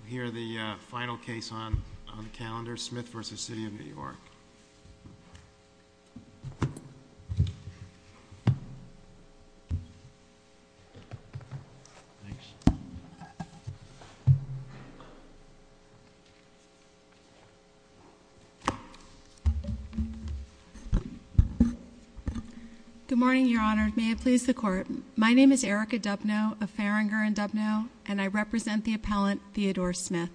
We'll hear the final case on the calendar, Smith v. City of New York. Thanks. Good morning, your honor. May it please the court. My name is Erica Dubno of Farringer and Dubno, and I represent the appellant Theodore Smith.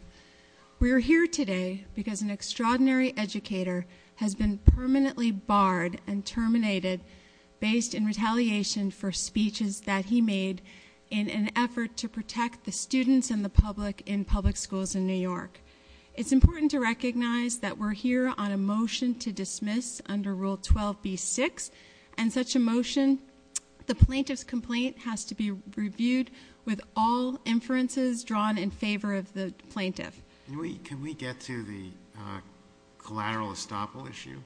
We are here today because an extraordinary educator has been permanently barred and terminated based in retaliation for speeches that he made in an effort to protect the students and the public in public schools in New York. It's important to recognize that we're here on a motion to dismiss under rule 12B6 and such a motion, the plaintiff's complaint has to be reviewed with all inferences drawn in favor of the plaintiff. Can we get to the collateral estoppel issue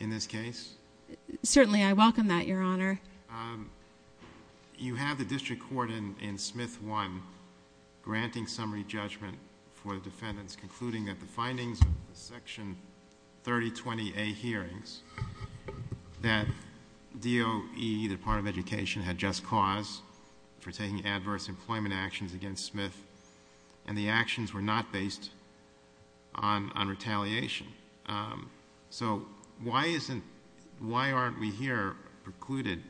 in this case? Certainly, I welcome that, your honor. You have the district court in Smith 1 granting summary judgment for the defendants concluding that the findings of the section 3020A hearings that DOE, the Department of Education, had just caused for taking adverse employment actions against Smith, and the actions were not based on retaliation. So why aren't we here precluded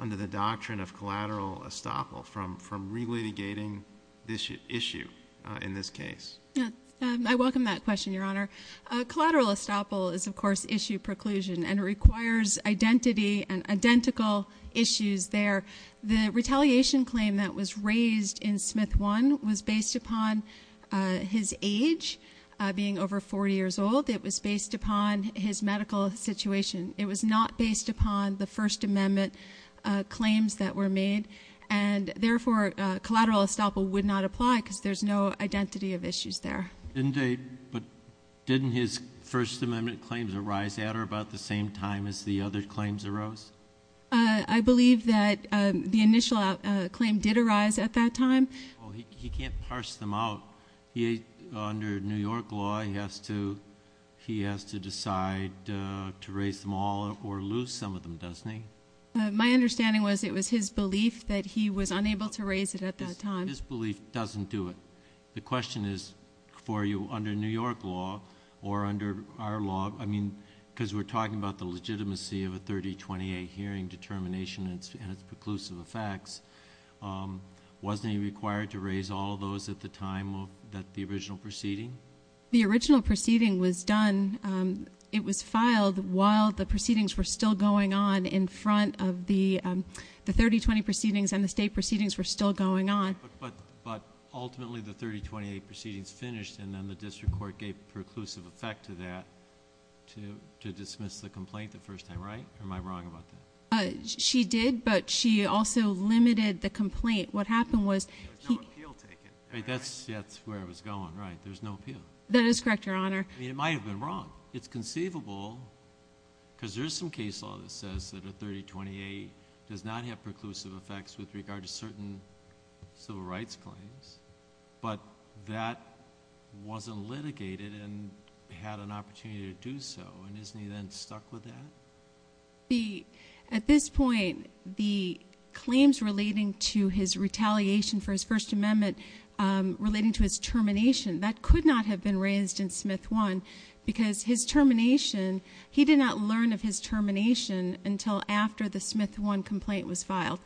under the doctrine of collateral estoppel from re-litigating this issue in this case? Yeah, I welcome that question, your honor. Collateral estoppel is, of course, issue preclusion, and it requires identity and identical issues there. The retaliation claim that was raised in Smith 1 was based upon his age, being over 40 years old. It was based upon his medical situation. It was not based upon the First Amendment claims that were made. And therefore, collateral estoppel would not apply because there's no identity of issues there. But didn't his First Amendment claims arise at or about the same time as the other claims arose? I believe that the initial claim did arise at that time. He can't parse them out. Under New York law, he has to decide to raise them all or lose some of them, doesn't he? My understanding was it was his belief that he was unable to raise it at that time. His belief doesn't do it. The question is for you, under New York law or under our law, I mean, because we're talking about the legitimacy of a 3028 hearing determination and its preclusive effects. Wasn't he required to raise all of those at the time of the original proceeding? The original proceeding was done, it was filed while the proceedings were still going on in front of the 3020 proceedings and the state proceedings were still going on. But ultimately, the 3028 proceedings finished and then the district court gave a preclusive effect to that to dismiss the complaint the first time, right? Or am I wrong about that? She did, but she also limited the complaint. What happened was- There was no appeal taken, right? That's where it was going, right? There's no appeal. That is correct, Your Honor. I mean, it might have been wrong. It's conceivable because there's some case law that says that a 3028 does not have preclusive effects with regard to certain civil rights claims, but that wasn't litigated and had an opportunity to do so. And isn't he then stuck with that? At this point, the claims relating to his retaliation for his first amendment relating to his termination, that could not have been raised in Smith 1. Because his termination, he did not learn of his termination until after the Smith 1 complaint was filed.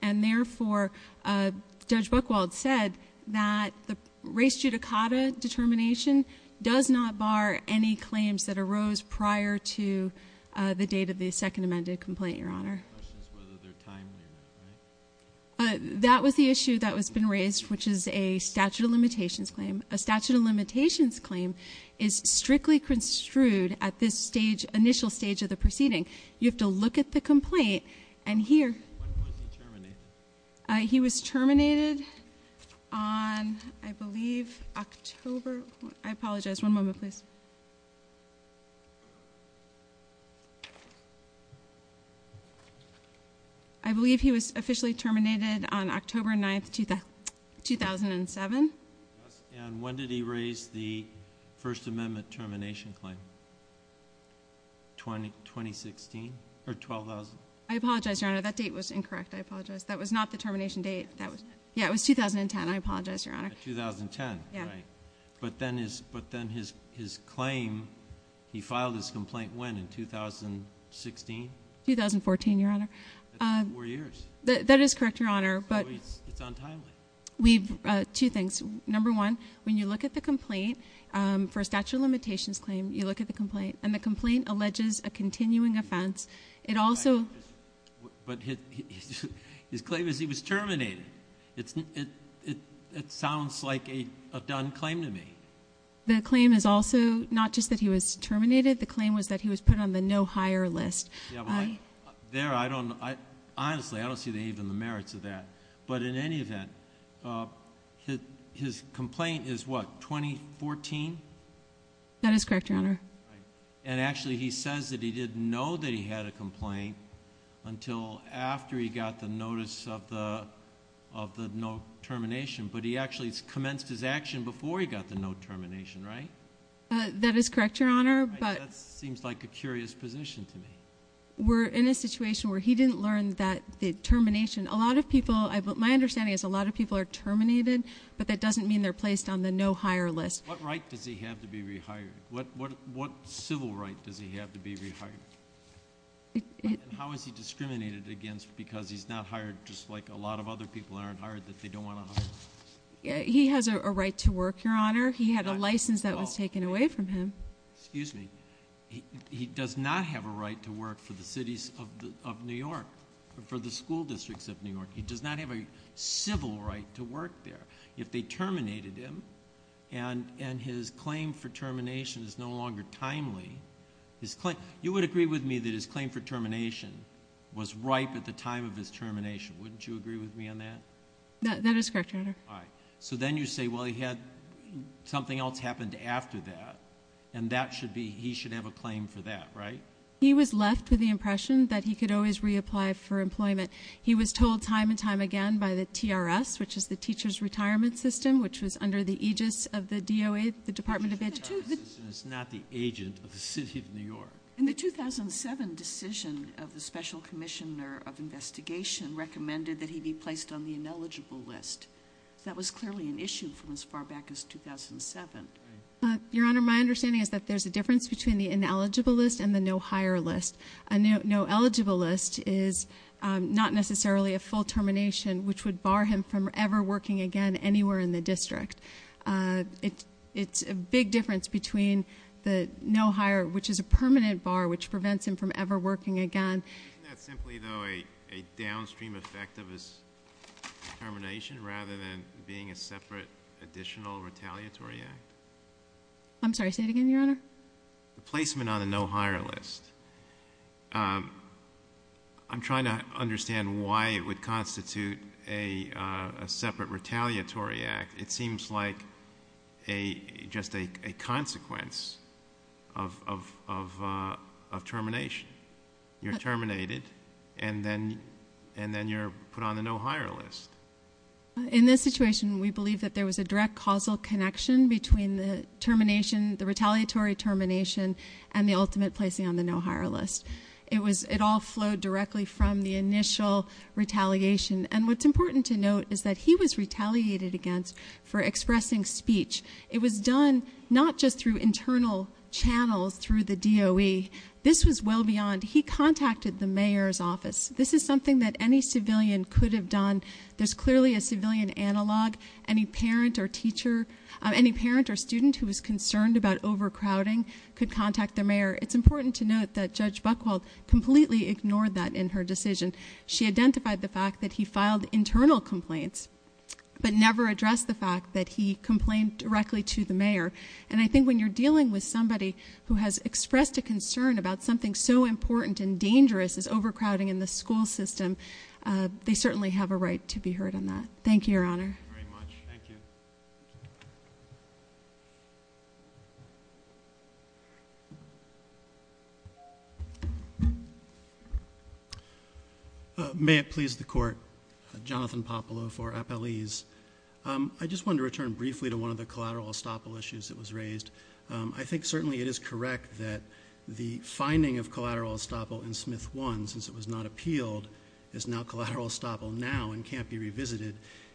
And therefore, Judge Buchwald said that the race judicata determination does not bar any claims that arose prior to the date of the second amended complaint, Your Honor. The question is whether they're timely or not, right? That was the issue that has been raised, which is a statute of limitations claim. A statute of limitations claim is strictly construed at this initial stage of the proceeding. You have to look at the complaint and hear- When was he terminated? He was terminated on, I believe, October, I apologize, one moment, please. I believe he was officially terminated on October 9th, 2007. Yes, and when did he raise the first amendment termination claim, 2016, or 12,000? I apologize, Your Honor, that date was incorrect, I apologize. That was not the termination date, that was, yeah, it was 2010, I apologize, Your Honor. 2010, right. But then his claim, he filed his complaint when, in 2016? 2014, Your Honor. That's four years. That is correct, Your Honor, but- So it's untimely. We've, two things. Number one, when you look at the complaint, for a statute of limitations claim, you look at the complaint, and the complaint alleges a continuing offense. It also- But his claim is he was terminated. It sounds like a done claim to me. The claim is also not just that he was terminated, the claim was that he was put on the no hire list. Yeah, but there I don't, honestly, I don't see even the merits of that. But in any event, his complaint is what, 2014? That is correct, Your Honor. And actually, he says that he didn't know that he had a complaint until after he got the notice of the no termination. But he actually commenced his action before he got the no termination, right? That is correct, Your Honor, but- That seems like a curious position to me. We're in a situation where he didn't learn that the termination. A lot of people, my understanding is a lot of people are terminated, but that doesn't mean they're placed on the no hire list. What right does he have to be rehired? What civil right does he have to be rehired? And how is he discriminated against because he's not hired just like a lot of other people aren't hired that they don't want to hire? He has a right to work, Your Honor. He had a license that was taken away from him. Excuse me, he does not have a right to work for the cities of New York, for the school districts of New York. He does not have a civil right to work there. If they terminated him, and his claim for termination is no longer timely, his claim, you would agree with me that his claim for termination was ripe at the time of his termination, wouldn't you agree with me on that? That is correct, Your Honor. All right, so then you say, well he had, something else happened after that, and that should be, he should have a claim for that, right? He was left with the impression that he could always reapply for employment. He was told time and time again by the TRS, which is the Teacher's Retirement System, which was under the aegis of the DOA, the Department of Education. The Teacher's Retirement System is not the agent of the city of New York. In the 2007 decision of the Special Commissioner of Investigation recommended that he be placed on the ineligible list. That was clearly an issue from as far back as 2007. Your Honor, my understanding is that there's a difference between the ineligible list and the no hire list. A no eligible list is not necessarily a full termination, which would bar him from ever working again anywhere in the district. It's a big difference between the no hire, which is a permanent bar, which prevents him from ever working again. Isn't that simply, though, a downstream effect of his termination rather than being a separate additional retaliatory act? I'm sorry, say it again, Your Honor. The placement on the no hire list, I'm trying to understand why it would constitute a separate retaliatory act. It seems like just a consequence of termination. You're terminated, and then you're put on the no hire list. In this situation, we believe that there was a direct causal connection between the termination, the retaliatory termination, and the ultimate placing on the no hire list. It all flowed directly from the initial retaliation. And what's important to note is that he was retaliated against for expressing speech. It was done not just through internal channels through the DOE. This was well beyond. He contacted the mayor's office. This is something that any civilian could have done. There's clearly a civilian analog. Any parent or teacher, any parent or student who was concerned about overcrowding could contact the mayor. It's important to note that Judge Buchwald completely ignored that in her decision. She identified the fact that he filed internal complaints, but never addressed the fact that he complained directly to the mayor. And I think when you're dealing with somebody who has expressed a concern about something so important and dangerous as overcrowding in the school system, they certainly have a right to be heard on that. Thank you, Your Honor. Thank you very much. Thank you. May it please the court. Jonathan Popolo for Appalese. I just wanted to return briefly to one of the collateral estoppel issues that was raised. I think certainly it is correct that the finding of collateral estoppel in Smith 1, since it was not appealed, is now collateral estoppel now and can't be revisited.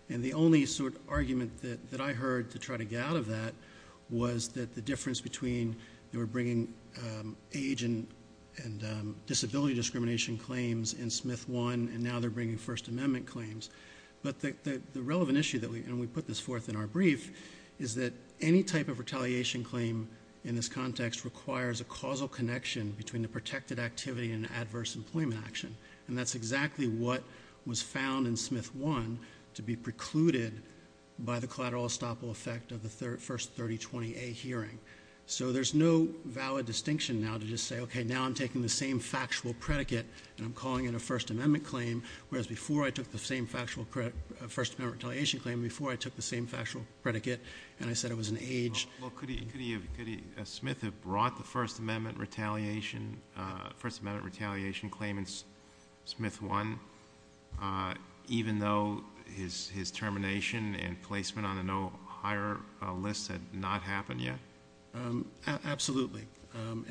And the only sort of argument that I heard to try to get out of that was that the difference between they were bringing age and disability discrimination claims in Smith 1, and now they're bringing First Amendment claims. But the relevant issue, and we put this forth in our brief, is that any type of retaliation claim in this context requires a causal connection between the protected activity and adverse employment action. And that's exactly what was found in Smith 1 to be precluded by the collateral estoppel effect of the first 3020A hearing. So there's no valid distinction now to just say, okay, now I'm taking the same factual predicate, and I'm calling it a First Amendment claim. Whereas before I took the same factual First Amendment retaliation claim, before I took the same factual predicate, and I said it was an age. Well, could he, could he, could he, Smith have brought the First Amendment retaliation, First Amendment retaliation claim in Smith 1 even though his termination and placement on a no higher list had not happened yet? Absolutely.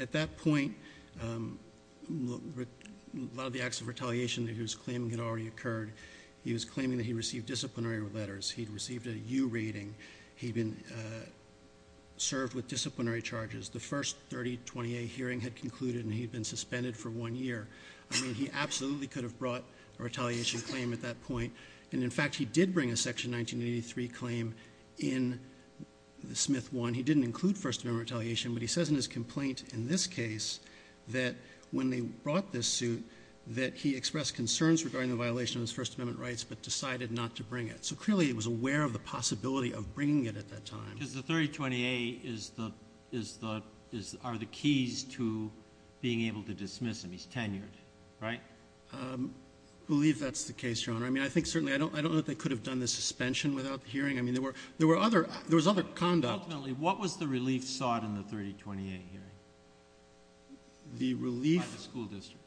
At that point, a lot of the acts of retaliation that he was claiming had already occurred. He was claiming that he received disciplinary letters. He'd received a U rating. He'd been served with disciplinary charges. The first 3020A hearing had concluded and he'd been suspended for one year. I mean, he absolutely could have brought a retaliation claim at that point. And in fact, he did bring a section 1983 claim in Smith 1. He didn't include First Amendment retaliation, but he says in his complaint in this case that when they brought this suit, that he expressed concerns regarding the violation of his First Amendment rights, but decided not to bring it. So clearly, he was aware of the possibility of bringing it at that time. Because the 3020A are the keys to being able to dismiss him. He's tenured, right? Believe that's the case, Your Honor. I mean, I think certainly, I don't know if they could have done the suspension without the hearing. I mean, there was other conduct. Ultimately, what was the relief sought in the 3020A hearing? The relief- By the school district.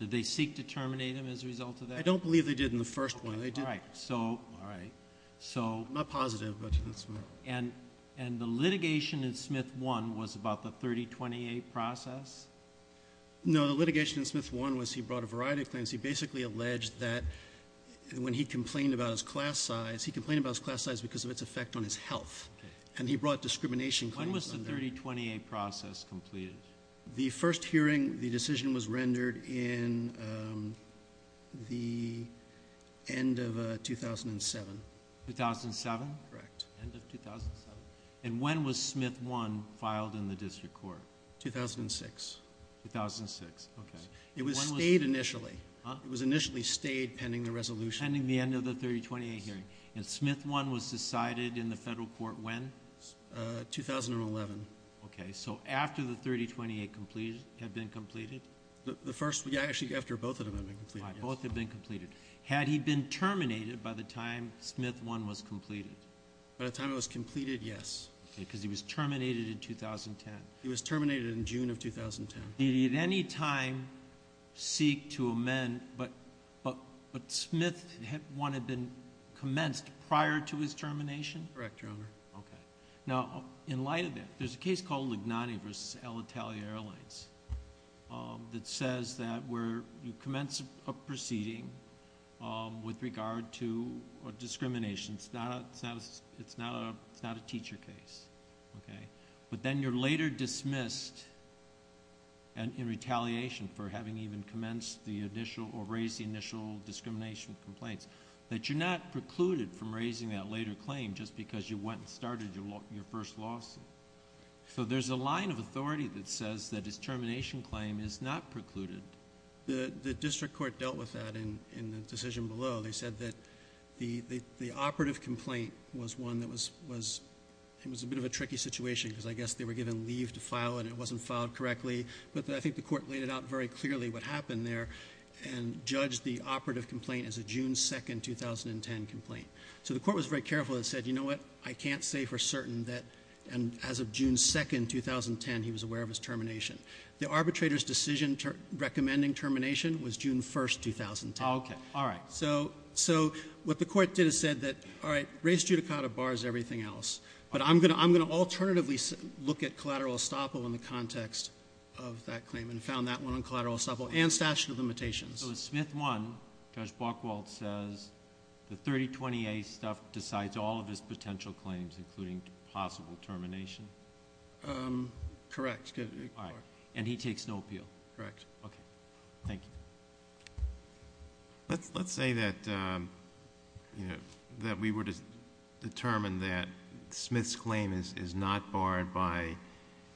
Did they seek to terminate him as a result of that? I don't believe they did in the first one. They did- All right, so- All right, so- Not positive, but that's- And the litigation in Smith 1 was about the 3020A process? No, the litigation in Smith 1 was he brought a variety of claims. He basically alleged that when he complained about his class size, he complained about his class size because of its effect on his health. And he brought discrimination claims under- When was the 3020A process completed? The first hearing, the decision was rendered in the end of 2007. 2007? Correct. End of 2007. And when was Smith 1 filed in the district court? 2006. 2006, okay. It was stayed initially. Huh? It was initially stayed pending the resolution. Pending the end of the 3020A hearing. And Smith 1 was decided in the federal court when? 2011. Okay, so after the 3020A had been completed? The first, yeah, actually after both of them had been completed, yes. Both had been completed. Had he been terminated by the time Smith 1 was completed? By the time it was completed, yes. Okay, because he was terminated in 2010. He was terminated in June of 2010. Did he at any time seek to amend, but Smith 1 had been commenced prior to his termination? Correct, Your Honor. Okay. Now, in light of that, there's a case called Lignani versus El Itali Airlines that says that where you commence a proceeding with regard to a discrimination. It's not a teacher case, okay? But then you're later dismissed in retaliation for having even commenced the initial or raised the initial discrimination complaints. That you're not precluded from raising that later claim just because you went and started your first lawsuit. So there's a line of authority that says that his termination claim is not precluded. The district court dealt with that in the decision below. They said that the operative complaint was one that was a bit of a tricky situation because I guess they were given leave to file and it wasn't filed correctly. But I think the court laid it out very clearly what happened there and judged the operative complaint as a June 2, 2010 complaint. So the court was very careful and said, you know what, I can't say for certain that as of June 2, 2010, he was aware of his termination. The arbitrator's decision to recommending termination was June 1, 2010. So what the court did is said that, all right, race judicata bars everything else. But I'm going to alternatively look at collateral estoppel in the context of that claim and found that one on collateral estoppel and statute of limitations. So in Smith 1, Judge Buchwald says the 3020A stuff decides all of his potential claims including possible termination. Correct. All right. And he takes no appeal? Correct. Thank you. Let's say that we were to determine that Smith's claim is not barred by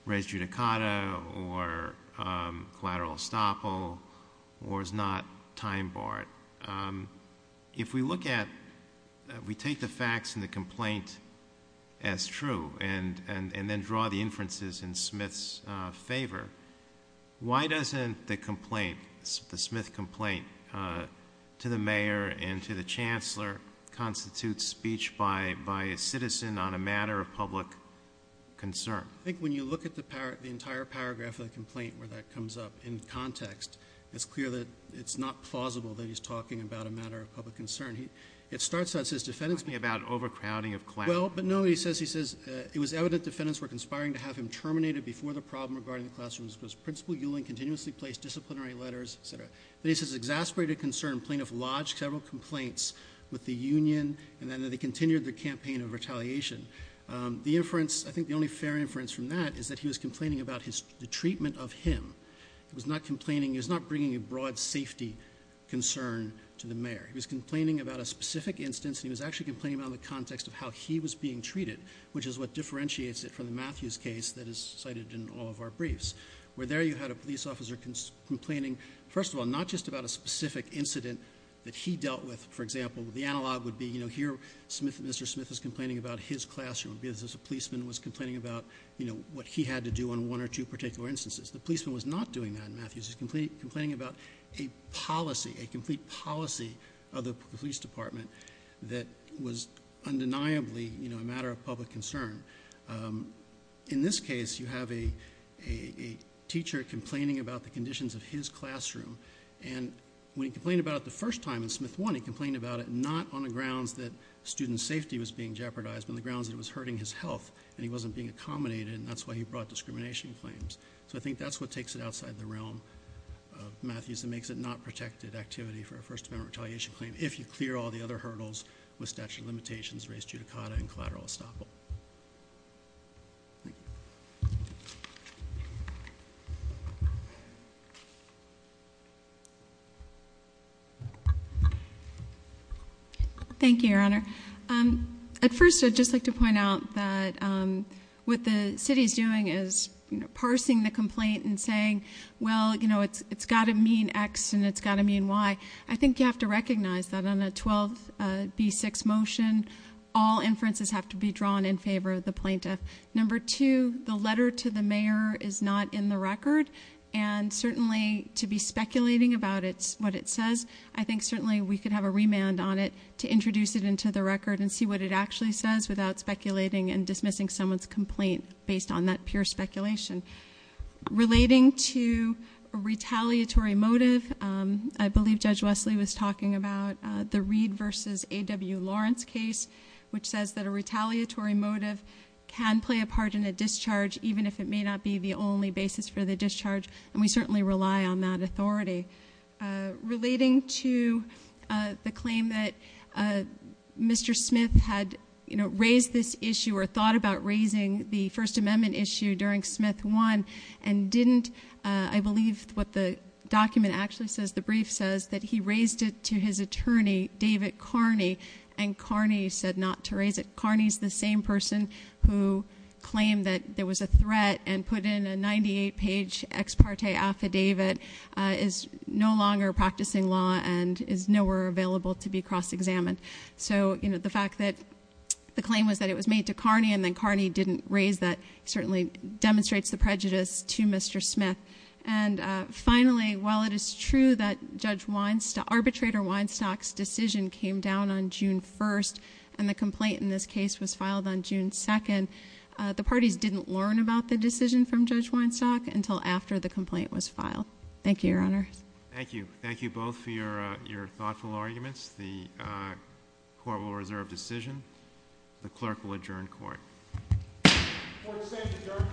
race judicata or collateral estoppel or is not time barred. If we look at, we take the facts in the complaint as true and then draw the inferences in Smith's favor, why doesn't the complaint, the Smith complaint to the mayor and to the chancellor constitute speech by a citizen on a matter of public concern? I think when you look at the entire paragraph of the complaint where that comes up in context, it's clear that it's not plausible that he's talking about a matter of public concern. It starts out, it says defendants. Talking about overcrowding of class. Well, but no, he says, he says it was evident defendants were conspiring to have him terminated before the problem regarding the classrooms because principal Ewing continuously placed disciplinary letters, etc. Then he says exasperated concern, plaintiff lodged several complaints with the union and then they continued the campaign of retaliation. The inference, I think the only fair inference from that is that he was complaining about the treatment of him. He was not complaining, he was not bringing a broad safety concern to the mayor. He was complaining about a specific instance and he was actually complaining about the context of how he was being treated which is what differentiates it from the Matthews case that is cited in all of our briefs. Where there you had a police officer complaining, first of all, not just about a specific incident that he dealt with. For example, the analog would be, you know, here Smith, Mr. Smith is complaining about his classroom. This is a policeman who was complaining about, you know, what he had to do on one or two particular instances. The policeman was not doing that in Matthews. He was complaining about a policy, a complete policy of the police department that was undeniably, you know, a matter of public concern. In this case, you have a teacher complaining about the conditions of his classroom. And when he complained about it the first time in Smith 1, he complained about it not on the grounds that student safety was being jeopardized but on the grounds that it was hurting his health and he wasn't being accommodated and that's why he brought discrimination claims. So I think that's what takes it outside the realm of Matthews and makes it not protected activity for a First Amendment retaliation claim if you clear all the other hurdles with statute of limitations, race judicata and collateral estoppel. Thank you. Thank you, Your Honor. At first, I'd just like to point out that what the city is doing is, you know, parsing the complaint and saying, well, you know, it's got to mean X and it's got to mean Y. I think you have to recognize that on a 12B6 motion, all inferences have to be drawn in favor of the plaintiff. Number two, the letter to the mayor is not in the record and certainly to be speculating about what it says, I think certainly we could have a remand on it to introduce it into the record and see what it actually says without speculating and dismissing someone's complaint based on that pure speculation. Relating to a retaliatory motive, I believe Judge Wesley was talking about the Reed versus A.W. Lawrence case which says that a retaliatory motive can play a part in a discharge even if it may not be the only basis for the discharge and we certainly rely on that authority. Relating to the claim that Mr. Smith had, you know, raised this issue or thought about raising the First Amendment issue during Smith 1 and didn't, I believe what the document actually says, the brief says that he raised it to his attorney David Carney and Carney said not to raise it. Carney is the same person who claimed that there was a threat and put in a 98-page ex parte affidavit, is no longer practicing law and is nowhere available to be cross-examined. So, you know, the fact that the claim was that it was made to Carney and then Carney didn't raise that certainly demonstrates the prejudice to Mr. Smith. And finally, while it is true that Arbitrator Weinstock's decision came down on June 1 and the complaint in this case was filed on June 2, the parties didn't learn about the decision from Judge Weinstock until after the complaint was filed. Thank you, Your Honor. Thank you. Thank you both for your thoughtful arguments. The court will reserve decision. The clerk will adjourn court. Court is adjourned.